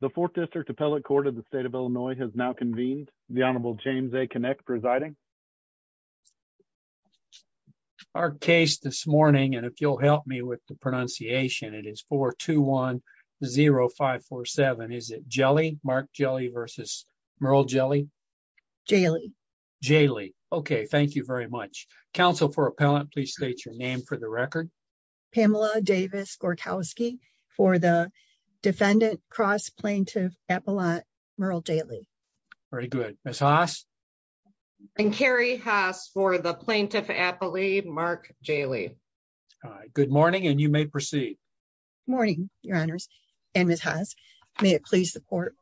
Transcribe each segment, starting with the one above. The Fourth District Appellate Court of the State of Illinois has now convened. The Honorable James A. Kinect presiding. Our case this morning, and if you'll help me with the pronunciation, it is 4-2-1-0-5-4-7, is it Jehle, Mark Jehle v. Merle Jehle? Jehle. Jehle. Okay, thank you very much. Counsel for Appellant, please state your name for the record. Pamela Davis Gorkowski for the Defendant Cross Plaintiff Appellant, Merle Jehle. Very good. Ms. Haas? And Carrie Haas for the Plaintiff Appellate, Mark Jehle. Good morning, and you may proceed. Morning, Your Honors and Ms. Haas. May it please the Court.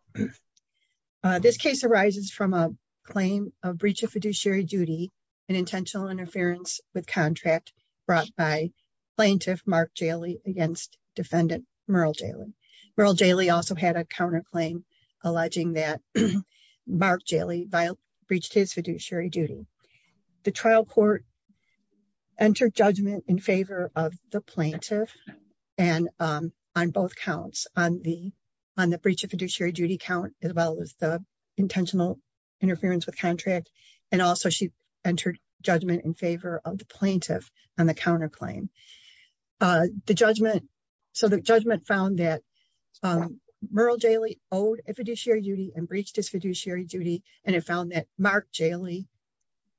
This case arises from a claim of breach of fiduciary duty and intentional interference with contract brought by Plaintiff Mark Jehle against Defendant Merle Jehle. Merle Jehle also had a counterclaim alleging that Mark Jehle breached his fiduciary duty. The trial court entered judgment in favor of the plaintiff on both counts, on the breach of fiduciary duty count as well as the intentional interference with contract, and also she entered judgment in favor of the plaintiff on the counterclaim. So the judgment found that Merle Jehle owed a fiduciary duty and breached his fiduciary duty, and it found that Mark Jehle,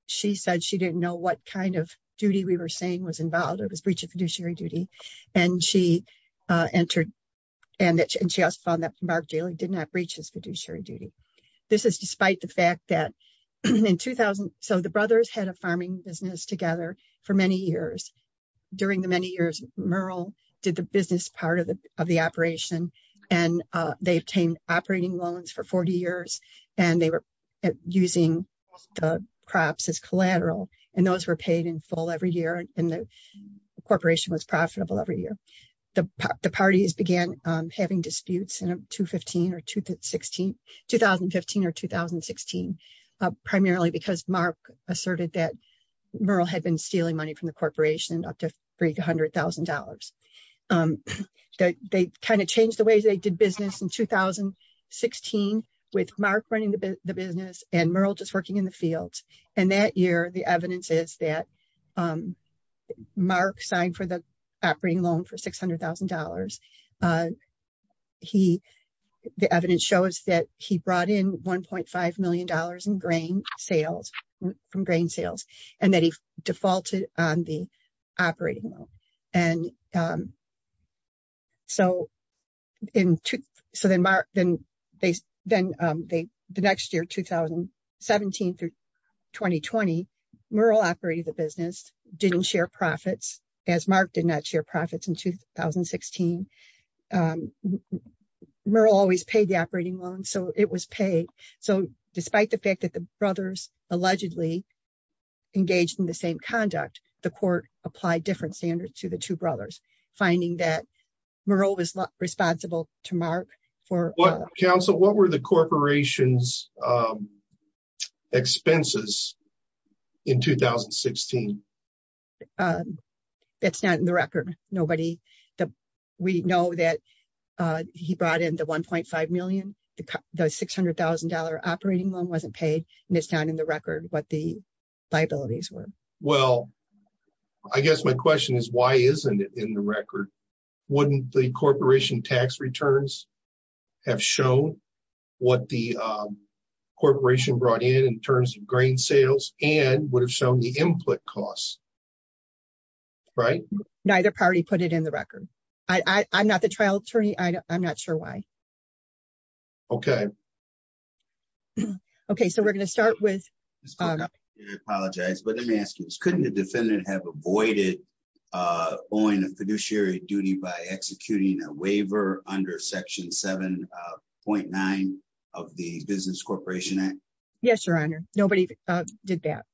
she said she didn't know what kind of duty we were saying was involved, it was breach of fiduciary duty, and she also found that Mark Jehle did not breach his fiduciary duty. This is despite the fact that in 2000, so the brothers had a farming business together for many years. During the many years, Merle did the business part of the operation, and they obtained operating loans for 40 years, and they were using the crops as collateral, and those were paid in full every year, and the corporation was profitable every year. The parties began having disputes in 2015 or 2016, primarily because Mark asserted that Merle had been stealing money from the corporation up to $300,000. They kind of changed the way they did business in 2016 with Mark running the business and Merle just working in the fields, and that year the evidence is that Mark signed for the operating loan for $600,000. The evidence shows that he brought in $1.5 million in grain sales, from grain sales, and that he defaulted on the operating loan. The next year, 2017 through 2020, Merle operated the business, didn't share profits, as Mark did not share profits in 2016. Merle always paid the operating loan, so it was paid. Despite the fact that the brothers allegedly engaged in the same conduct, the court applied different standards to the two brothers, finding that Merle was responsible to Mark. What were the corporation's expenses in 2016? That's not in the record. We know that he brought in the $1.5 million. The $600,000 operating loan wasn't paid, and it's not in the record what the liabilities were. Well, I guess my question is, why isn't it in the record? Wouldn't the corporation tax returns have shown what the corporation brought in in terms of grain sales and would have shown the input costs, right? Neither party put it in the record. I'm not the trial attorney. I'm not sure why. Okay. Okay, so we're going to start with... I apologize, but let me ask you this. Couldn't the defendant have avoided owing a fiduciary duty by executing a waiver under Section 7.9 of the Business Corporation Act? Yes, Your Honor. Nobody did that.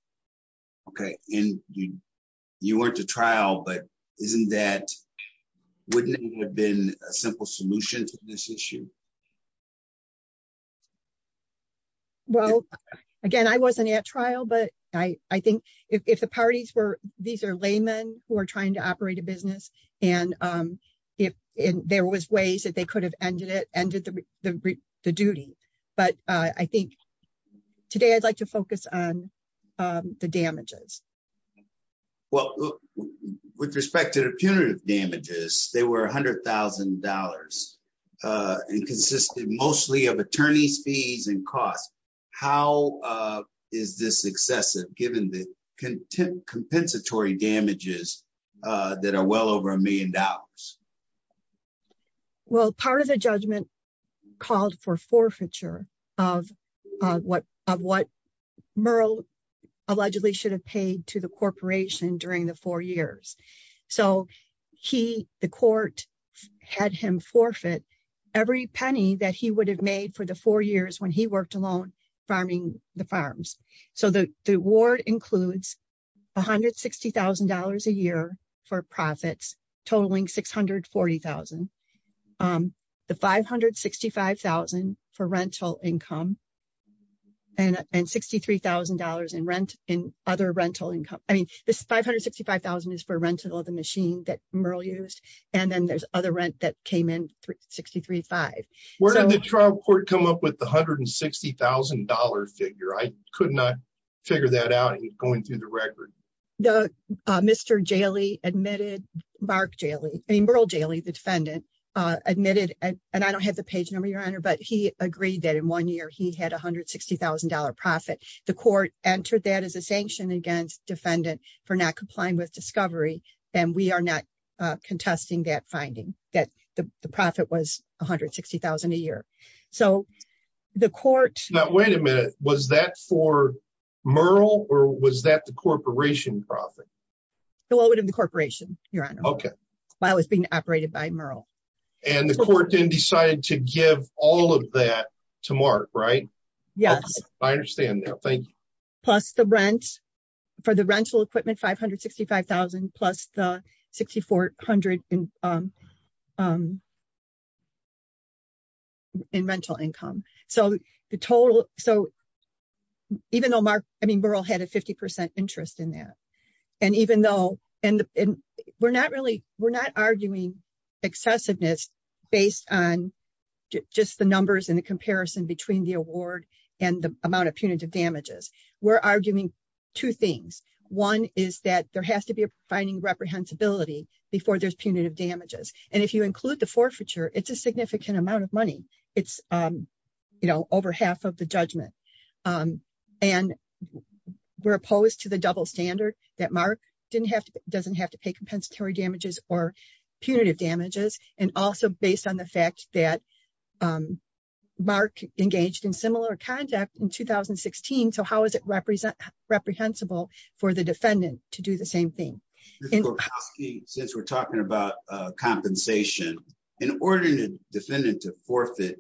Okay, and you weren't the trial, but wouldn't it have been a simple solution to this issue? Well, again, I wasn't at trial, but I think if the parties were... These are laymen who are trying to operate a business, and there was ways that they could have ended the duty, but I think today I'd like to focus on the damages. Well, with respect to the punitive damages, they were $100,000 and consisted mostly of attorney's fees and costs. How is this excessive given the compensatory damages that are well over a million dollars? Well, part of the judgment called for forfeiture of what Merle allegedly should have paid to the corporation during the four years. So he, the court, had him forfeit every penny that he would have made for the four years when he worked alone farming the farms. So the award includes $160,000 a year for profits, totaling $640,000. The $565,000 for rental income and $63,000 in other rental income. I mean, this $565,000 is for rental of the machine that Merle used, and then there's other rent that came in, $63,500. Where did the trial court come up with the $160,000 figure? I could not figure that out going through the record. Mr. Jaley admitted, Merle Jaley, the defendant, admitted, and I don't have the page number, Your Honor, but he agreed that in one year he had $160,000 profit. The court entered that as a sanction against defendant for not complying with discovery, and we are not contesting that finding, that the profit was $160,000 a year. So the court... Now, wait a minute. Was that for Merle, or was that the corporation profit? It would have been the corporation, Your Honor, while it was being operated by Merle. And the court then decided to give all of that to Mark, right? Yes. I understand now. Thank you. Plus the rent for the rental equipment, $565,000, plus the $6,400 in rental income. So even though Merle had a 50% interest in that, and even though... We're not arguing excessiveness based on just the numbers and the comparison between the award and the amount of punitive damages. We're arguing two things. One is that there has to be a finding of reprehensibility before there's punitive damages. And if you include the forfeiture, it's a significant amount of money. It's over half of the judgment. And we're opposed to the double standard that Mark doesn't have to pay compensatory damages or Mark engaged in similar conduct in 2016. So how is it reprehensible for the defendant to do the same thing? Ms. Korkowski, since we're talking about compensation, in order for the defendant to forfeit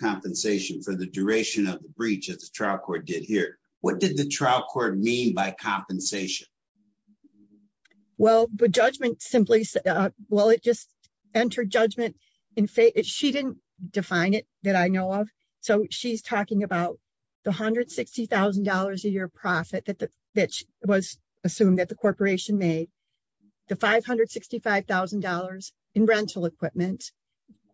compensation for the duration of the breach that the trial court did here, what did the trial court mean by compensation? Well, the judgment simply... Well, it just define it that I know of. So she's talking about the $160,000 a year profit that was assumed that the corporation made, the $565,000 in rental equipment,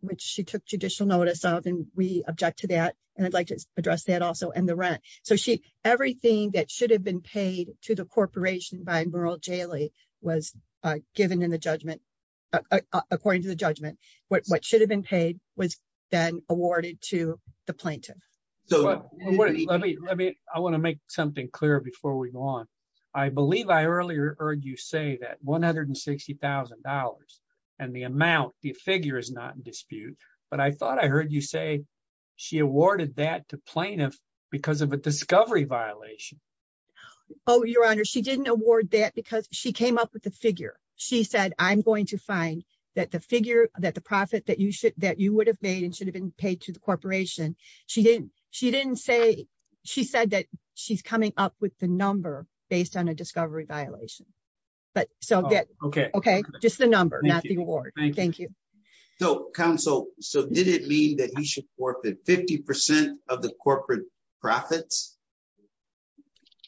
which she took judicial notice of, and we object to that, and I'd like to address that also, and the rent. So everything that should have been paid to the corporation by Merle Jailey was given in the judgment, according to the judgment. What should have been paid was then awarded to the plaintiff. I want to make something clear before we go on. I believe I earlier heard you say that $160,000 and the amount, the figure is not in dispute, but I thought I heard you say she awarded that to plaintiff because of a discovery violation. Oh, Your Honor, she didn't award that because she came up with the figure. She said, I'm going to find that the figure, that the profit that you would have made and should have been paid to the corporation, she didn't say... She said that she's coming up with the number based on a discovery violation. Okay. Okay. Just the number, not the award. Thank you. So counsel, so did it mean that he should forfeit 50% of the corporate profits?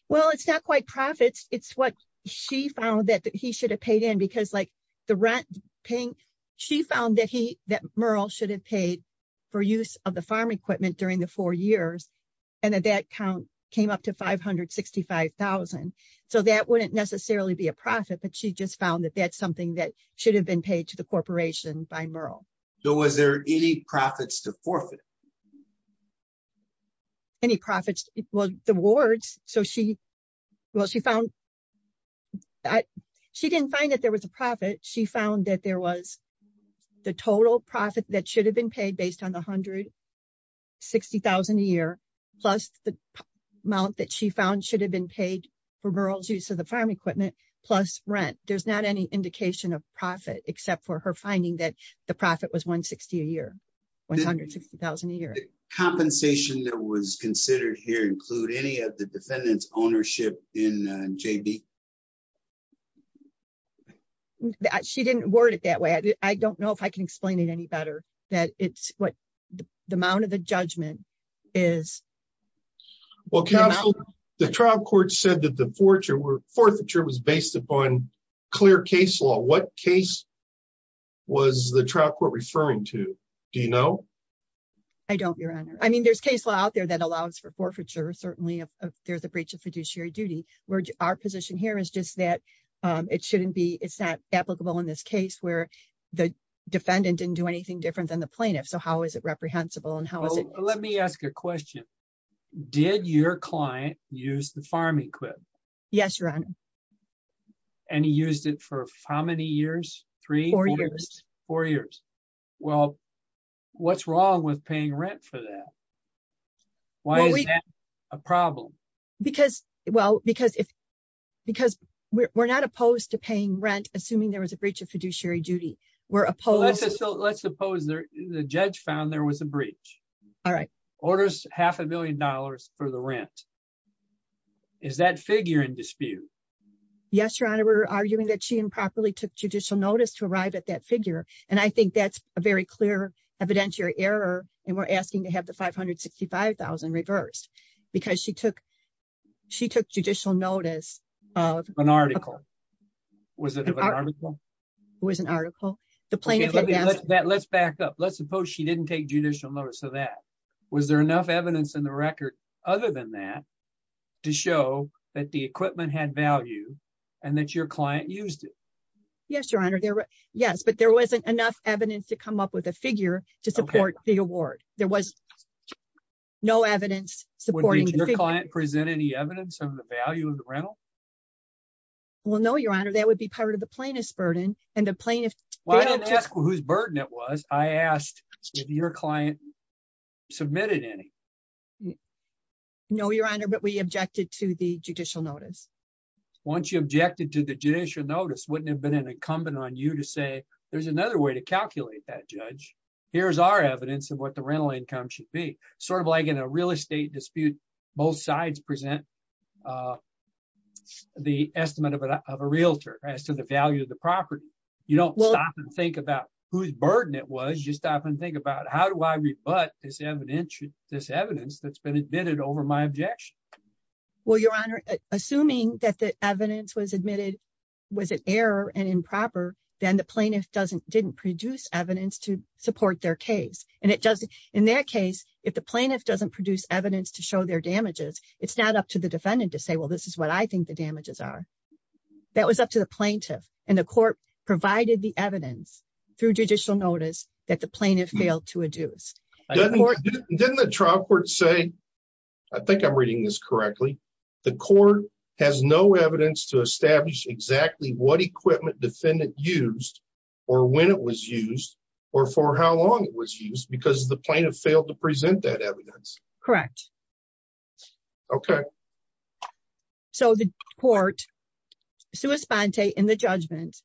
Well, it's not quite profits. It's what she found that he should have paid in because like the rent paying, she found that he, that Merle should have paid for use of the farm equipment during the four years. And then that count came up to 565,000. So that wouldn't necessarily be a profit, but she just found that that's something that should have been paid to the corporation by Merle. So was there any profits to forfeit? Any profits? Well, the wards. So she, well, she found that she didn't find that there was a profit. She found that there was the total profit that should have been paid based on the 160,000 a year, plus the amount that she found should have been paid for Merle's use of the farm equipment, plus rent. There's not any indication of profit except for her finding that the profit was 160 a year, 160,000 a year. Compensation that was considered here include any of the defendant's ownership in JB? She didn't word it that way. I don't know if I can explain it any better that it's what the amount of the judgment is. Well, counsel, the trial court said that the forfeiture was based upon clear case law. What case was the trial court referring to? Do you know? I don't, your honor. I mean, there's case law out there that allows for forfeiture. Certainly, there's a breach of fiduciary duty where our position here is just that it shouldn't be, it's not applicable in this case where the defendant didn't do anything different than the plaintiff. So how is it reprehensible and how is it? Let me ask a question. Did your client use the farm equipment? Yes, your honor. And he used it for how many years? Three? Four years. Four years. Well, what's wrong with paying rent for that? Why is that a problem? Because, well, because we're not opposed to paying rent assuming there was a breach of fiduciary duty. We're opposed. Let's suppose the judge found there was a breach. All right. Yes, your honor. We're arguing that she improperly took judicial notice to arrive at that figure. And I think that's a very clear evidentiary error. And we're asking to have the 565,000 reversed because she took she took judicial notice of an article. Was it an article? It was an article. The plaintiff. Let's back up. Let's suppose she didn't take judicial notice of that. Was there enough evidence in the record other than that to show that the equipment had value and that your client used it? Yes, your honor. Yes, but there wasn't enough evidence to come up with a figure to support the award. There was no evidence supporting. Did your client present any evidence of the value of the rental? Well, no, your honor. That would be part of the plaintiff's burden and the plaintiff. Why don't you ask whose burden it was? I asked if your client submitted any. You know, your honor, but we objected to the judicial notice. Once you objected to the judicial notice, wouldn't have been an incumbent on you to say, there's another way to calculate that judge. Here's our evidence of what the rental income should be sort of like in a real estate dispute. Both sides present the estimate of a realtor as to the value of the property. You don't stop and think about whose burden it was. You stop and think about how do I rebut this evidence that's been admitted over my objection? Well, your honor, assuming that the evidence was admitted was an error and improper, then the plaintiff didn't produce evidence to support their case. In their case, if the plaintiff doesn't produce evidence to show their damages, it's not up to the defendant to say, well, this is what I think the damages are. That was up to the plaintiff and the court provided the evidence through judicial notice that the plaintiff failed to adduce. Doesn't the trial court say, I think I'm reading this correctly. The court has no evidence to establish exactly what equipment defendant used or when it was used or for how long it was used because the plaintiff failed to present that evidence. Correct. Okay. So the court, sui sponte in the judgment,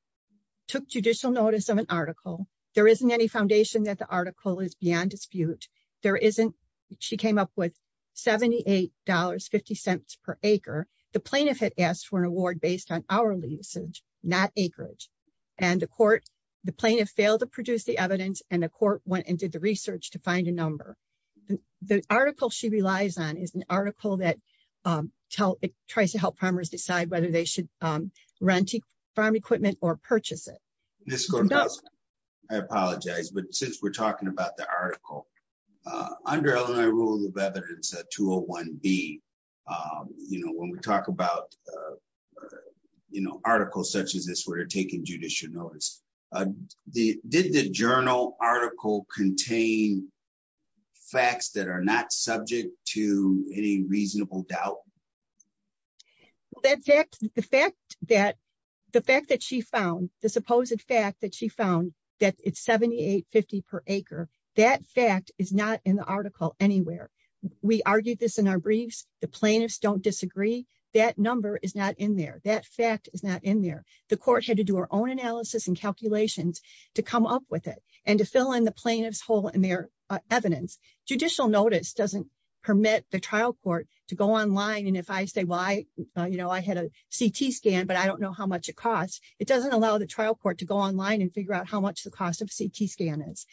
took judicial notice of an article. There isn't any foundation that the article is beyond dispute. There isn't, she came up with $78.50 per acre. The plaintiff had asked for an award based on hourly usage, not acreage. And the court, the plaintiff failed to produce the evidence and the court went and did the research to find a number. The article she relies on is an article that tries to help farmers decide whether they should rent farm equipment or purchase it. I apologize, but since we're talking about the article, under Illinois rule of evidence, 201B, when we talk about articles such as this where you're taking judicial notice, did the journal article contain facts that are not subject to any reasonable doubt? Well, the fact that she found, the supposed fact that she found that it's $78.50 per acre, that fact is not in the article anywhere. We argued this in our briefs. The plaintiffs don't disagree. That number is not in there. That fact is not in there. The court had to do her own analysis and calculations to come up with it and to fill in the plaintiff's hole in their evidence. Judicial notice doesn't permit the trial court to go online and if I say, well, I had a CT scan, but I don't know how much it costs. It doesn't allow the trial court to go online and figure out how much the cost of a CT scan is.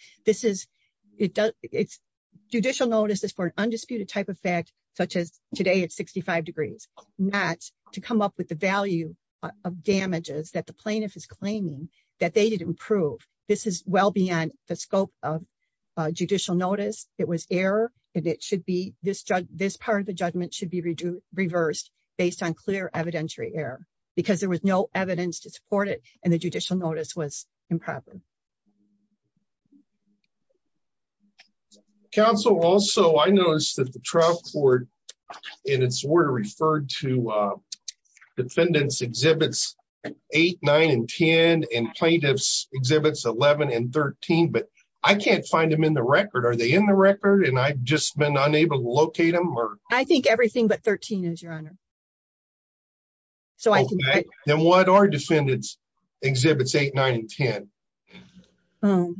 Judicial notice is for an undisputed type of fact, such as today at 65 degrees, not to come up with the value of damages that the plaintiff is claiming that they did improve. This is well beyond the scope of judicial notice. It was error and this part of the judgment should be reversed based on clear evidentiary error because there was no evidence to support it and the judicial notice was improper. Counsel, also I noticed that the trial court in its order referred to defendants exhibits eight, nine, and 10 and plaintiffs exhibits 11 and 13, but I can't find them in the record. Are they in the record? And I've just been unable to locate them or. I think everything but 13 is your honor. So, then what are defendants exhibits eight, nine, and 10.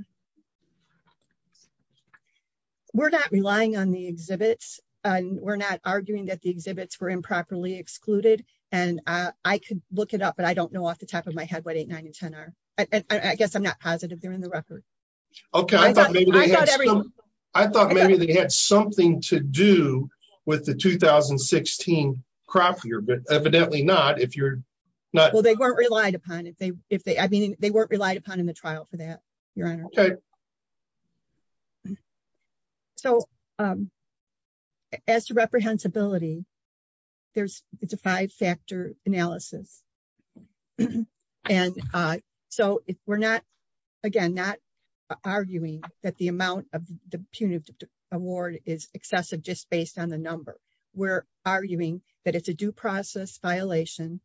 We're not relying on the exhibits and we're not arguing that the exhibits were improperly excluded and I could look it up, but I don't know off the top of my head what eight, nine, and 10 are. I guess I'm not positive they're in the record. Okay, I thought maybe they had something to do with the 2016 crop year, but evidently not. Well, they weren't relied upon in the trial for that, your honor. So, as to reprehensibility, it's a five-factor analysis. And so, we're not, again, not arguing that the amount of the punitive award is excessive just based on the number. We're arguing that it's a due process violation,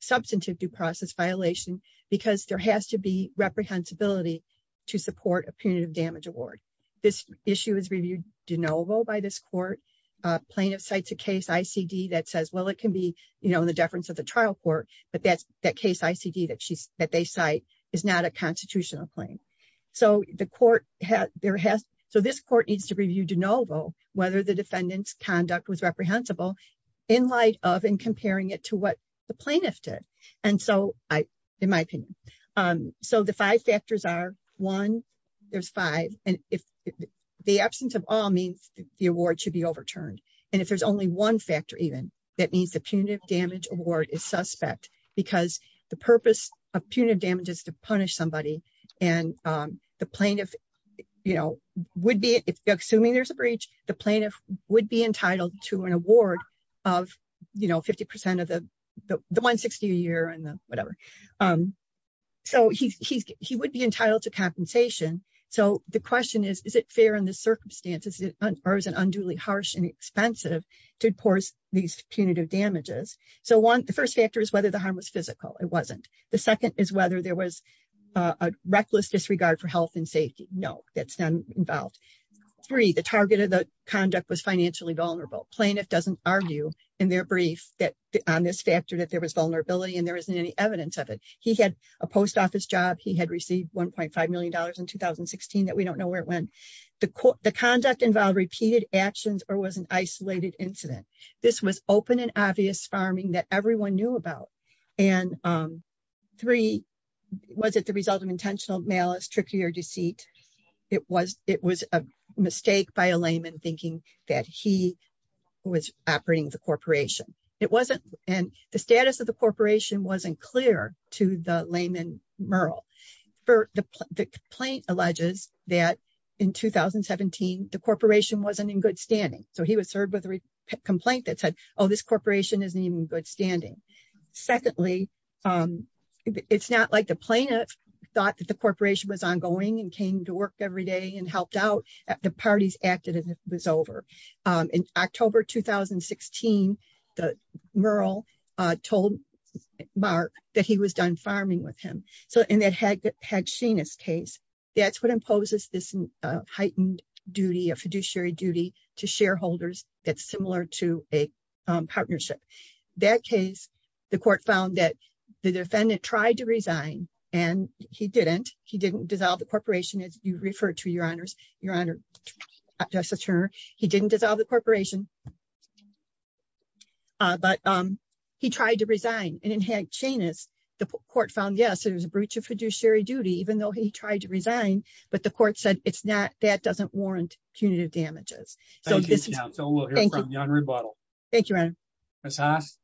substantive due process violation, because there has to be reprehensibility to support a punitive damage award. This issue is reviewed de novo by this court. Plaintiff cites a case ICD that says, well, it can be in the deference of the trial court, but that case ICD that they cite is not a constitutional claim. So, this court needs to review de novo whether the defendant's conduct was reprehensible in light of and comparing it to what the plaintiff did. And so, in my opinion. So, the five factors are, one, there's five. And if the absence of all means the award should be overturned. And if there's only one factor even, that means the punitive damage award is suspect because the purpose of punitive damage is to punish somebody. And the plaintiff, you know, would be, assuming there's a breach, the plaintiff would be entitled to an award of, you know, 50% of the 160 a year and whatever. So, he would be entitled to compensation. So, the question is, is it fair in the circumstances or is it unduly harsh and expensive to force these punitive damages? So, one, the first factor is whether the harm was physical. It wasn't. The second is whether there was a reckless disregard for health and safety. No, that's not involved. Three, the target of the conduct was financially vulnerable. Plaintiff doesn't argue in their brief that on this factor that there was vulnerability and there isn't any evidence of it. He had a post office job. He had received $1.5 million in 2016 that we don't know where it went. The conduct involved repeated actions or was an isolated incident. This was open and obvious farming that everyone knew about. And three, was it the result of intentional malice, trickery, or deceit? It was a mistake by a layman thinking that he was operating the corporation. And the status of the corporation wasn't clear to the layman Murrell. The complaint alleges that in 2017, the corporation wasn't in good standing. So, he was served with a complaint that said, oh, this corporation isn't even in good standing. Secondly, it's not like the plaintiff thought that the corporation was ongoing and came to work every day and helped out. The parties acted as if it was over. In October 2016, the Murrell told Mark that he was done farming with him. So, in that Hagashina's case, that's what imposes this heightened duty, a fiduciary duty to shareholders that's similar to a partnership. That case, the court found that the defendant tried to resign and he didn't. He didn't dissolve the corporation as you referred to, Your Honors. Your Honor, Justice Turner, he didn't dissolve the corporation, but he tried to resign. And in Hagashina's, the court found, yes, it was a breach of fiduciary duty, even though he tried to resign. But the court said it's not, that doesn't warrant punitive damages. Thank you, counsel. We'll hear from you on rebuttal. Thank you, Your Honor. Ms. Haas.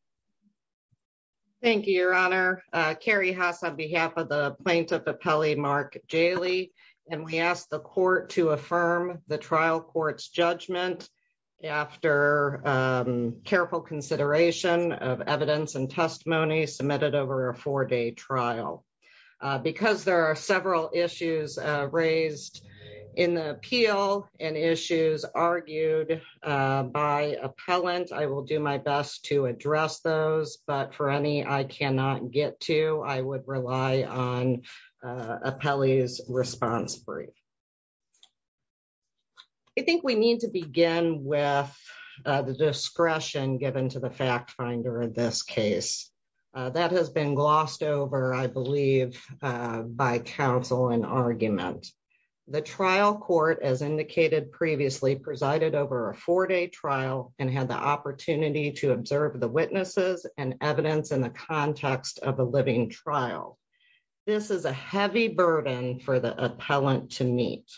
Thank you, Your Honor. Carrie Haas on behalf of the plaintiff appellee, Mark Jaley. And we asked the court to affirm the trial court's judgment after careful consideration of evidence and testimony submitted over a four-day trial. Because there are several issues raised in the appeal and issues argued by appellant, I will do my best to address those. But for any I cannot get to, I would rely on appellee's response brief. I think we need to begin with the discretion given to the fact finder in this case. That has been glossed over, I believe, by counsel and argument. The trial court, as indicated previously, presided over a four-day trial and had the opportunity to observe the witnesses and evidence in the context of a living trial. This is a heavy burden for the appellant to meet.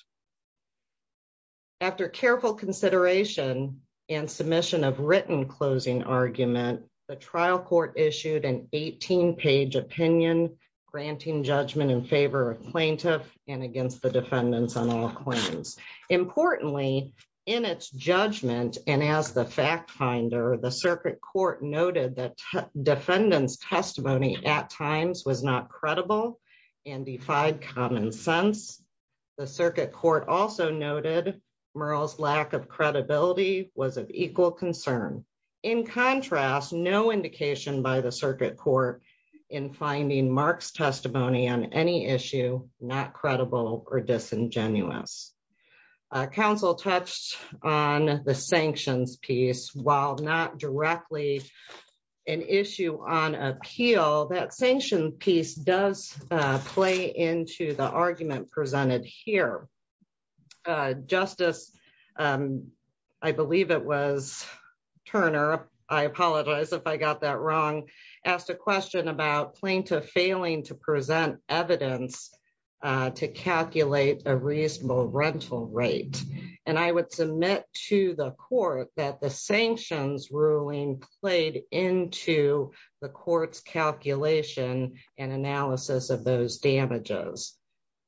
After careful consideration and submission of written closing argument, the trial court issued an 18-page opinion granting judgment in favor of plaintiff and against the defendants on all claims. Importantly, in its judgment and as the fact finder, the circuit court noted that defendant's testimony at times was not credible and defied common sense. The circuit court also noted Murrell's lack of credibility was of equal concern. In contrast, no indication by the circuit court in finding Mark's testimony on any issue not credible or disingenuous. Counsel touched on the sanctions piece. While not directly an issue on appeal, that sanction piece does play into the argument presented here. Justice, I believe it was Turner, I apologize if I got that wrong, asked a question about plaintiff failing to present evidence to calculate a reasonable rental rate. And I would submit to the court that the sanctions ruling played into the court's calculation and analysis of those damages.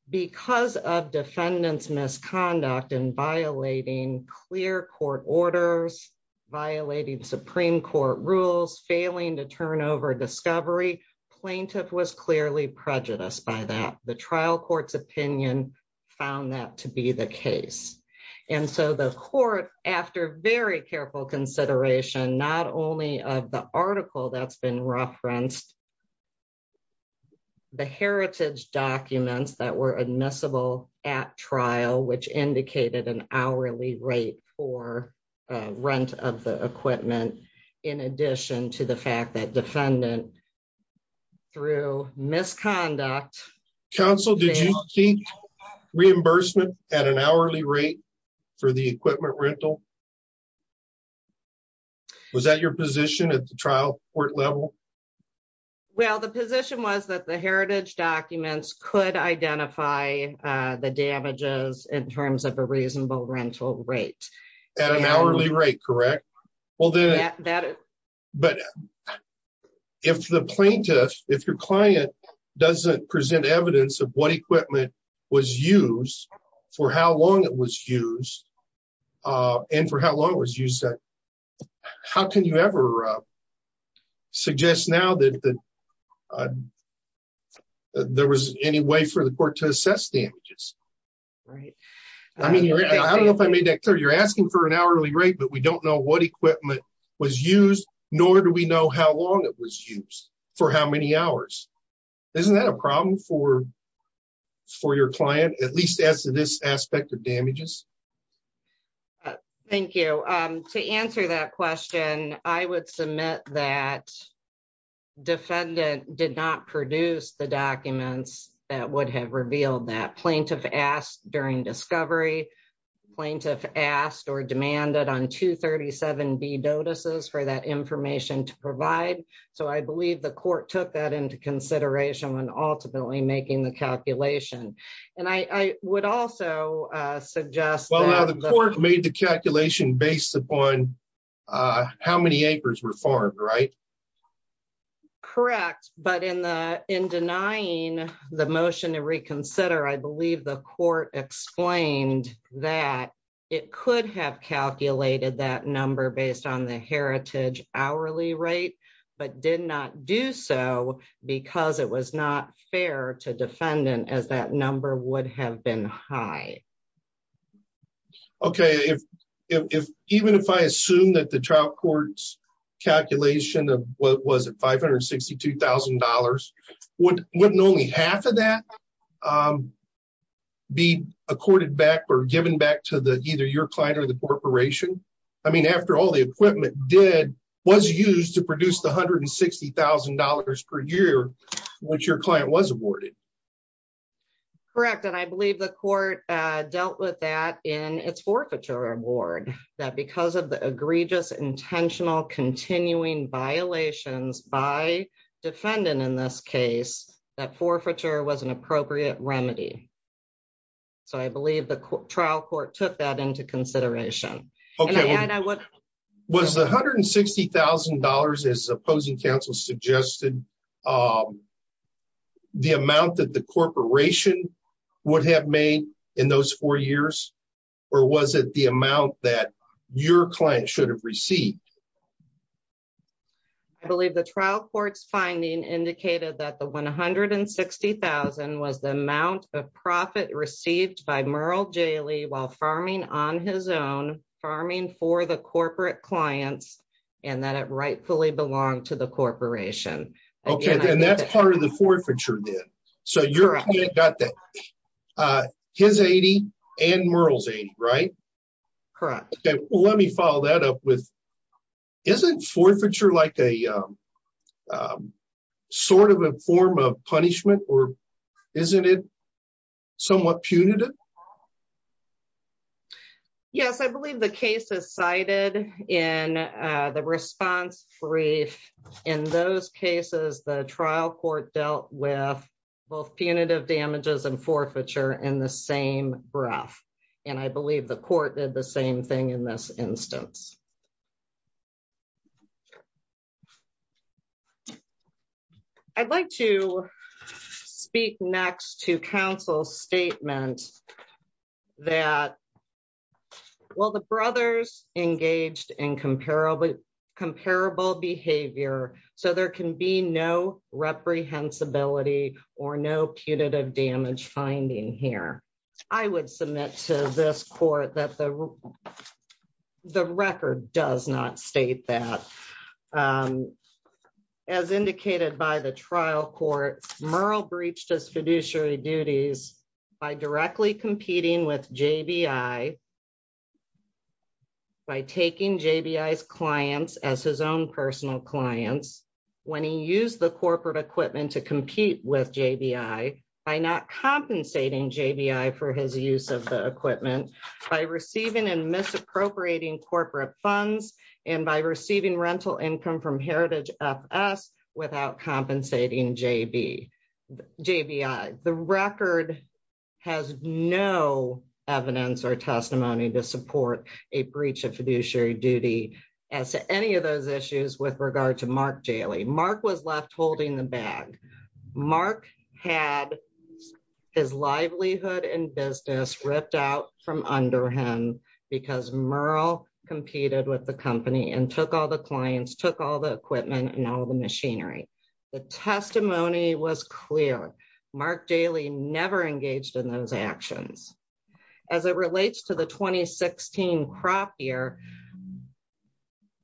Because of defendant's misconduct in violating clear court orders, violating Supreme Court rules, failing to turn over discovery, plaintiff was clearly prejudiced by that. The trial court's opinion found that to be the case. And so the court, after very careful consideration, not only of the article that's been referenced, the heritage documents that were admissible at trial, which indicated an hourly rate for rent of the equipment, in addition to the fact that defendant through misconduct, Counsel, did you keep reimbursement at an hourly rate for the equipment rental? Was that your position at the trial court level? Well, the position was that the heritage documents could identify the damages in terms of a reasonable rental rate. At an hourly rate, correct? Well, but if the plaintiff, if your client doesn't present evidence of what equipment was used, for how long it was used, and for how long it was used, how can you ever suggest now that there was any way for the court to assess damages? Right. I mean, I don't know if I made that clear. You're asking for an hourly rate, but we don't know what equipment was used, nor do we know how long it was used for how many hours. Isn't that a problem for your client, at least as to this aspect of damages? Thank you. To answer that question, I would submit that defendant did not produce the documents that would have revealed that plaintiff asked during discovery, plaintiff asked or demanded on 237B notices for that information to provide. So I believe the court took that into consideration when ultimately making the calculation. And I would also suggest that- Well, the court made the calculation based upon how many acres were farmed, right? Correct. But in denying the motion to reconsider, I believe the court explained that it could have calculated that number based on the heritage hourly rate, but did not do so because it was not fair to defendant as that number would have been high. Okay. If, even if I assume that the trial court's calculation of what was it? $562,000, wouldn't only half of that be accorded back or given back to the, either your client or the corporation? I mean, after all the equipment was used to produce the $160,000 per year, which your client was awarded. Correct. And I believe the court dealt with that in its forfeiture award, that because of the egregious intentional continuing violations by defendant in this case, that forfeiture was an appropriate remedy. So I believe the trial court took that into consideration. Okay. Was the $160,000, as opposing counsel suggested, the amount that the corporation would have made in those four years, or was it the amount that your client should have received? I believe the trial court's finding indicated that the $160,000 was the amount of profit received by Merle J. Lee while farming on his own, farming for the corporate clients, and that it rightfully belonged to the corporation. Okay. And that's part of the forfeiture then. So your client got that, his 80 and Merle's 80, right? Correct. Okay. Well, let me follow that up with, isn't forfeiture like a, sort of a form of punishment or isn't it somewhat punitive? Yes, I believe the case is cited in the response brief. In those cases, the trial court dealt with both punitive damages and forfeiture in the same breath. And I believe the court did the same thing in this instance. I'd like to speak next to counsel's statement that, well, the brothers engaged in comparable behavior. So there can be no reprehensibility or no punitive damage finding here. I would submit to this court that the record does not state that. Um, as indicated by the trial court, Merle breached his fiduciary duties by directly competing with JBI by taking JBI's clients as his own personal clients. When he used the corporate equipment to compete with JBI by not compensating JBI for his use of the equipment by receiving and misappropriating corporate funds and by receiving rental income from Heritage FS without compensating JBI. The record has no evidence or testimony to support a breach of fiduciary duty as to any of those issues with regard to Mark Jaley. Mark was left holding the bag. Mark had his livelihood and business ripped out from under him because Merle competed with the clients, took all the equipment and all the machinery. The testimony was clear. Mark Jaley never engaged in those actions. As it relates to the 2016 crop year,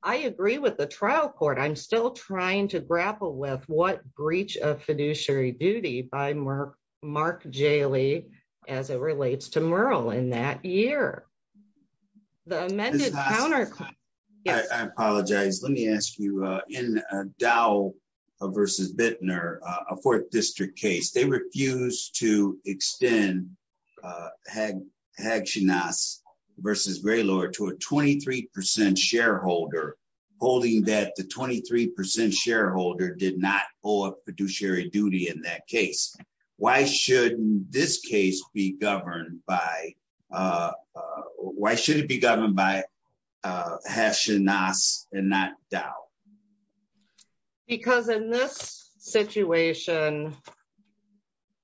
I agree with the trial court. I'm still trying to grapple with what breach of fiduciary duty by Mark Jaley as it relates to Merle in that year. The amended counter. I apologize. Let me ask you. In Dow versus Bittner, a fourth district case, they refused to extend Hagsinas versus Raylord to a 23% shareholder, holding that the 23% shareholder did not hold a fiduciary duty in that case. Why should this case be governed by Hagsinas and not Dow? Because in this situation,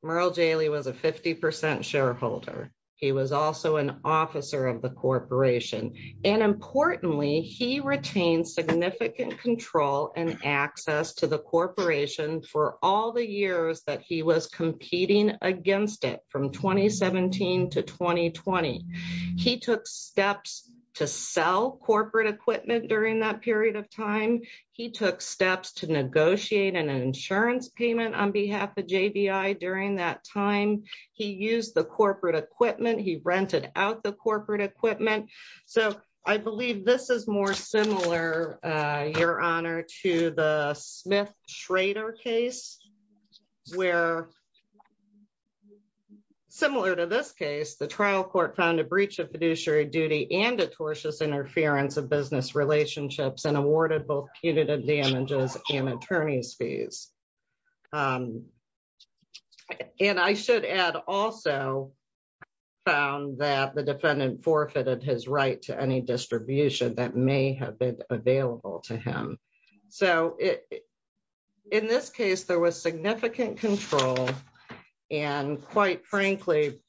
Merle Jaley was a 50% shareholder. He was also an officer of the corporation. And importantly, he retained significant control and access to the corporation for all the years that he was competing against it from 2017 to 2020. He took steps to sell corporate equipment during that period of time. He took steps to negotiate an insurance payment on behalf of JBI during that time. He used the corporate equipment. He rented out the corporate equipment. So I believe this is more similar, Your Honor, to the Smith Schrader case. Where, similar to this case, the trial court found a breach of fiduciary duty and a tortuous interference of business relationships and awarded both punitive damages and attorney's fees. And I should add also found that the defendant forfeited his right to any distribution that may have been available to him. So in this case, there was significant control. And quite frankly,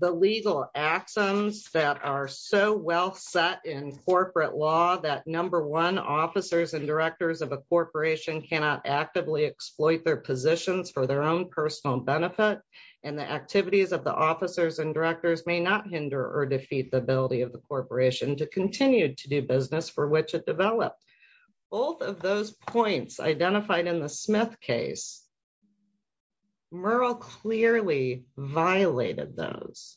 the legal axioms that are so well set in corporate law that number one, officers and directors of a corporation cannot actively exploit their positions for their own personal benefit and the activities of the officers and directors may not hinder or defeat the ability of the corporation to continue to do business for which it developed. Both of those points identified in the Smith case, Merle clearly violated those.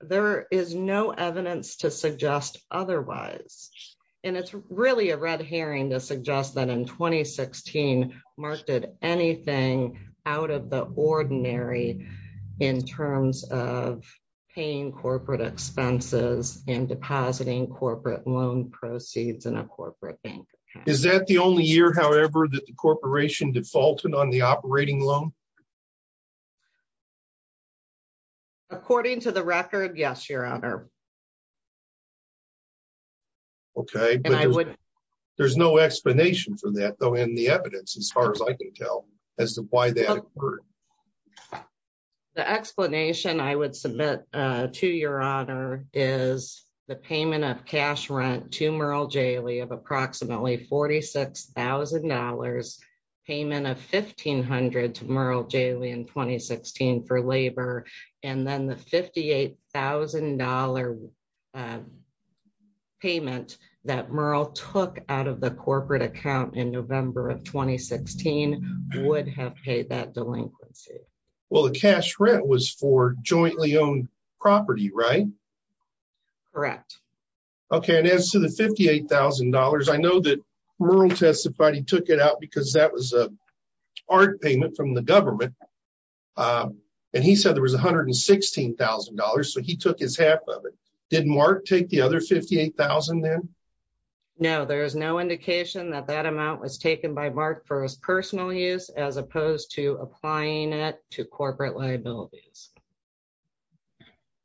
There is no evidence to suggest otherwise. And it's really a red herring to suggest that in 2016, Merle did anything out of the ordinary in terms of paying corporate expenses and depositing corporate loan proceeds in a corporate bank account. Is that the only year, however, that the corporation defaulted on the operating loan? According to the record, yes, Your Honor. Okay. There's no explanation for that though in the evidence as far as I can tell as to why that occurred. The explanation I would submit to Your Honor is the payment of cash rent to Merle J. Lee of approximately $46,000 payment of 1500 to Merle J. Lee in 2016 for labor and then the $58,000 payment that Merle took out of the corporate account in November of 2016 would have paid that delinquency. Well, the cash rent was for jointly owned property, right? Correct. Okay. And as to the $58,000, I know that Merle testified he took it out because that was a art payment from the government. And he said there was $116,000. So he took his half of it. Did Mark take the other $58,000 then? No, there is no indication that that amount was taken by personal use as opposed to applying it to corporate liabilities.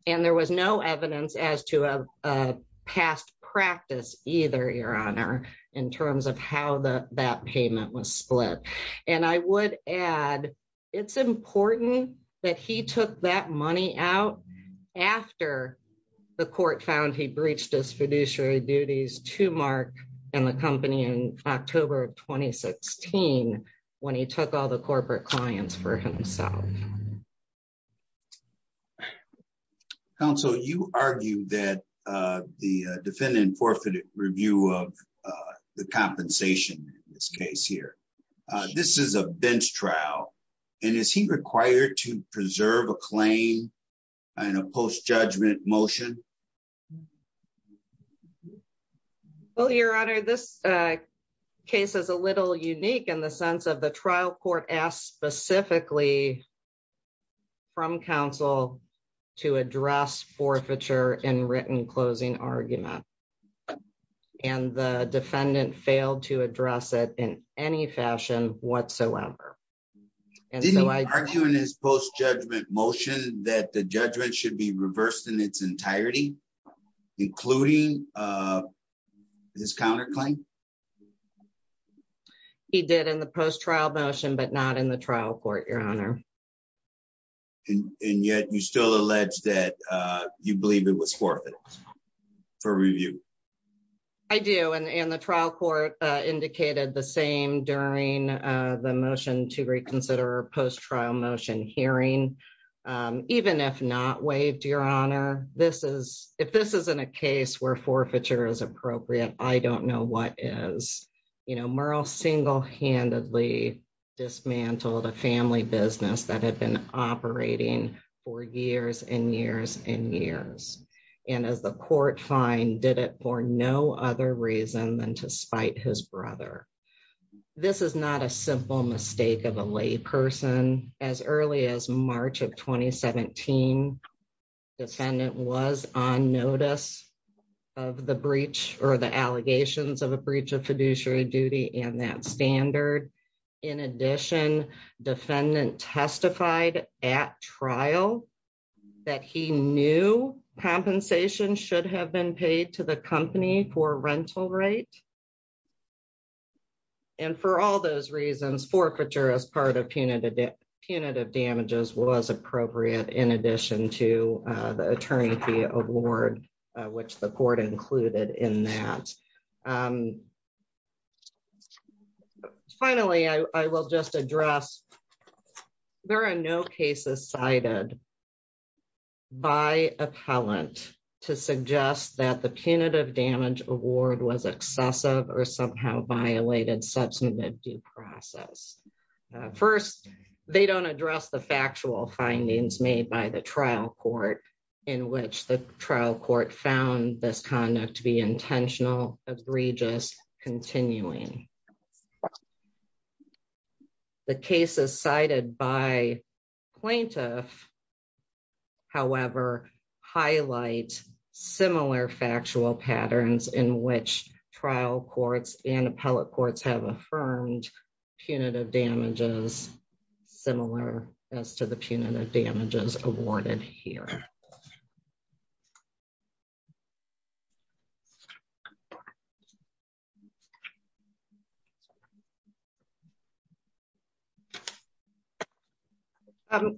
And there was no evidence as to a past practice either, Your Honor, in terms of how that payment was split. And I would add, it's important that he took that money out after the court found he October of 2016 when he took all the corporate clients for himself. Counsel, you argue that the defendant forfeited review of the compensation in this case here. This is a bench trial. And is he required to preserve a claim and a post judgment motion? Well, Your Honor, this case is a little unique in the sense of the trial court asked specifically from counsel to address forfeiture in written closing argument. And the defendant failed to address it in any fashion whatsoever. And so I argue in his post judgment motion that the judgment should be reversed in its entirety. Including this counterclaim. He did in the post trial motion, but not in the trial court, Your Honor. And yet you still allege that you believe it was forfeit for review. I do. And the trial court indicated the same during the motion to reconsider post trial motion hearing. Even if not waived, Your Honor, if this isn't a case where forfeiture is appropriate, I don't know what is. Merle single handedly dismantled a family business that had been operating for years and years and years. And as the court find, did it for no other reason than to spite his brother. This is not a simple mistake of a lay person. As early as March of 2017, defendant was on notice of the breach or the allegations of a breach of fiduciary duty and that standard. In addition, defendant testified at trial that he knew compensation should have been paid to the company for rental rate. And for all those reasons, forfeiture as part of punitive damages was appropriate in addition to the attorney award, which the court included in that. Um, finally, I will just address, there are no cases cited by appellant to suggest that the punitive damage award was excessive or somehow violated substantive due process. First, they don't address the factual findings made by the trial court in which the trial court found this conduct to be intentional, egregious, continuing. The cases cited by plaintiff, however, highlight similar factual patterns in which trial courts and appellate courts have affirmed punitive damages, similar as to the punitive damages awarded here.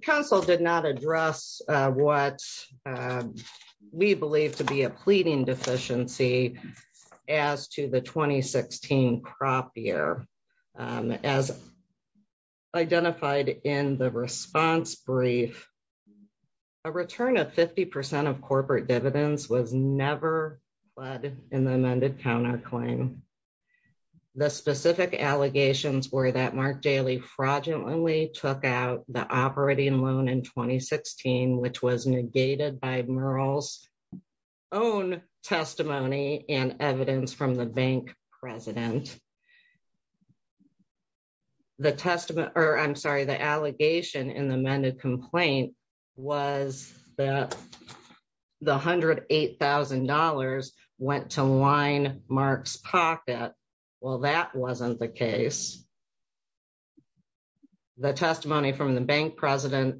Council did not address what we believe to be a pleading deficiency as to the 2016 crop year. As identified in the response brief, a return of 50% of corporate dividends was never led in the amended counterclaim. The specific allegations were that Mark Daly fraudulently took out the operating loan in 2016, which was negated by Murrell's own testimony and evidence from the bank president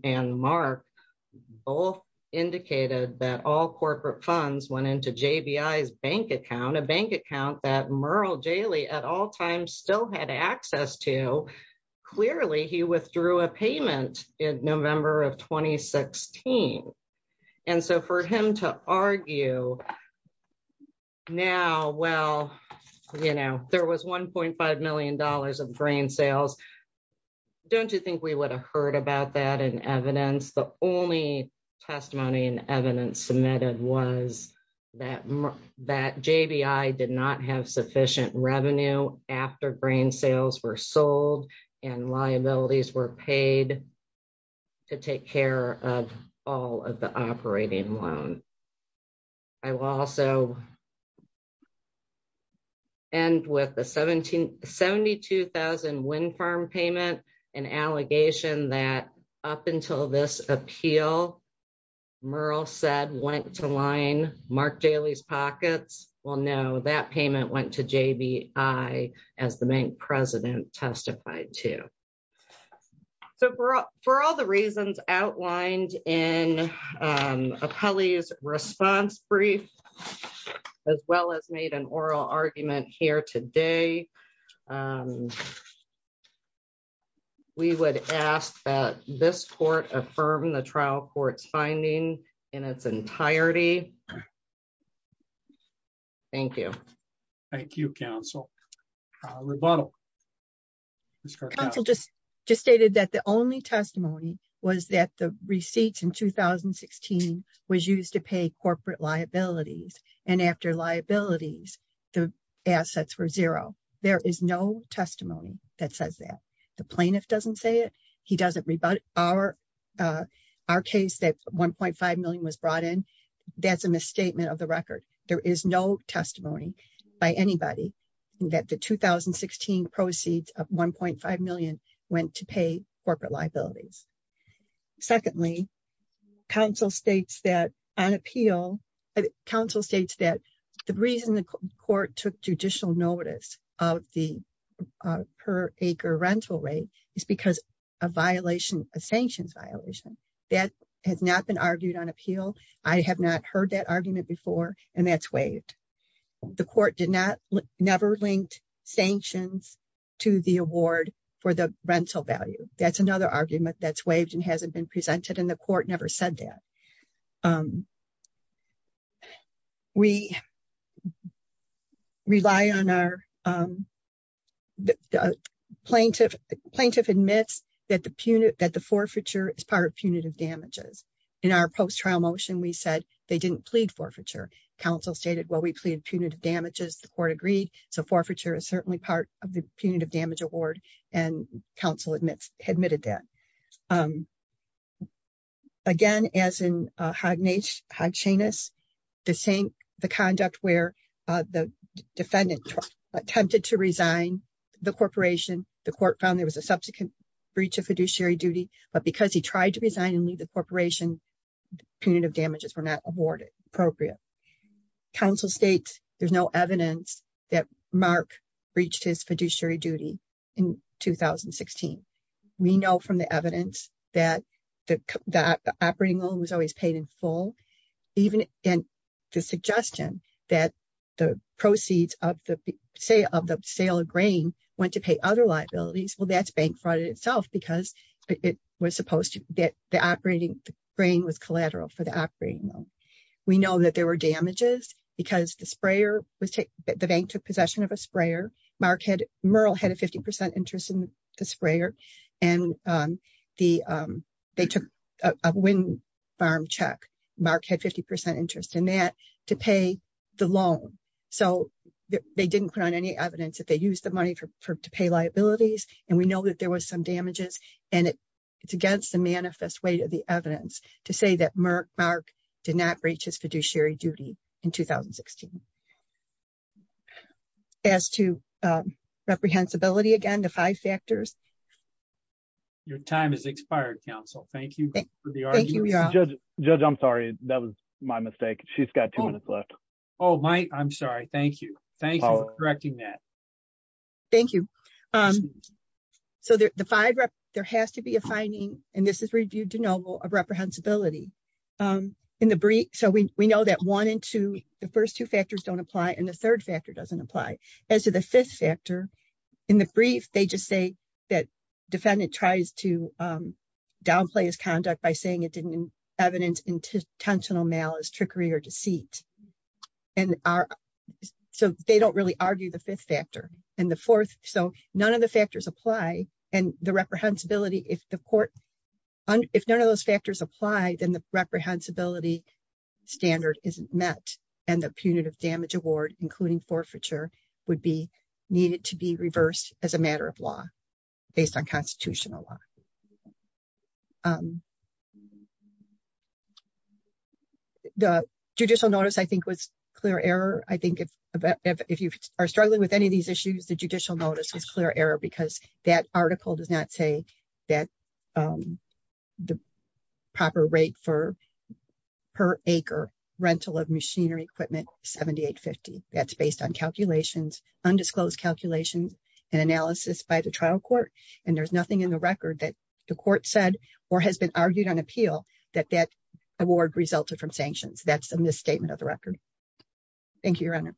and Mark both indicated that all corporate funds went into JBI's bank account, a bank account that Murrell Daly at all times still had access to. Clearly, he withdrew a payment in November of 2016. For him to argue now, well, there was $1.5 million of grain sales, don't you think we would have heard about that in evidence? The only testimony and evidence submitted was that JBI did not have sufficient revenue after grain sales were sold and liabilities were paid to take care of all of the operating loan. I will also end with a $72,000 wind farm payment, an allegation that up until this appeal, Murrell said went to line Mark Daly's pockets. Well, no, that payment went to JBI as the bank president testified to. So, for all the reasons outlined in Apeli's response brief, as well as made an oral argument here today, we would ask that this court affirm the trial court's finding in its entirety. Thank you. Thank you, counsel. Rebuttal. Counsel just stated that the only testimony was that the receipts in 2016 was used to pay corporate liabilities and after liabilities, the assets were zero. There is no testimony that says that. The plaintiff doesn't say it. He doesn't rebut our case that $1.5 million was testimony by anybody that the 2016 proceeds of $1.5 million went to pay corporate liabilities. Secondly, counsel states that the reason the court took judicial notice of the per acre rental rate is because of a sanctions violation. That has not been argued on appeal. I have not heard that argument before, and that's waived. The court never linked sanctions to the award for the rental value. That's another argument that's waived and hasn't been presented, and the court never said that. Plaintiff admits that the forfeiture is part of the punitive damage award. Counsel admitted that. Again, the conduct where the defendant attempted to resign the corporation, the court found there was a subsequent breach of fiduciary duty, but because he tried to resign the corporation, punitive damages were not awarded appropriate. Counsel states there's no evidence that Mark breached his fiduciary duty in 2016. We know from the evidence that the operating loan was always paid in full. Even in the suggestion that the proceeds of the sale of grain went to pay other liabilities, well, that's bank fraud in itself because it was supposed to get the operating grain was collateral for the operating loan. We know that there were damages because the bank took possession of a sprayer. Merle had a 50% interest in the sprayer, and they took a wind farm check. Mark had 50% interest in that to pay the loan, so they didn't put on any evidence that they used the money to pay liabilities, and we know that there was some damages, and it's against the manifest weight of the evidence to say that Mark did not breach his fiduciary duty in 2016. As to reprehensibility, again, the five factors. Your time has expired, counsel. Thank you. Judge, I'm sorry. That was my mistake. She's got two minutes left. Oh, Mike, I'm sorry. Thank you. Thank you for correcting that. Thank you. So, there has to be a finding, and this is reviewed de novo, of reprehensibility. So, we know that one and two, the first two factors don't apply, and the third factor doesn't apply. As to the fifth factor, in the brief, they just say that defendant tries to downplay his conduct by saying it didn't evidence intentional malice, trickery, or deceit. So, they don't really review the fifth factor. And the fourth, so none of the factors apply, and the reprehensibility, if the court, if none of those factors apply, then the reprehensibility standard isn't met, and the punitive damage award, including forfeiture, would be needed to be reversed as a matter of law based on constitutional law. The judicial notice, I think, was clear error. I think if you are struggling with any of these issues, the judicial notice was clear error, because that article does not say that the proper rate for per acre rental of machinery equipment, $78.50. That's based on calculations, undisclosed calculations, and analysis by the trial court, and there's nothing in the record that the court said or has been argued on appeal that that award resulted from sanctions. That's a misstatement of the record. Thank you, Your Honor.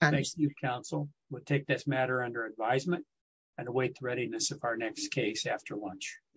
Thank you, counsel. We'll take this matter under advisement and await the readiness of our next case after lunch. Thank you.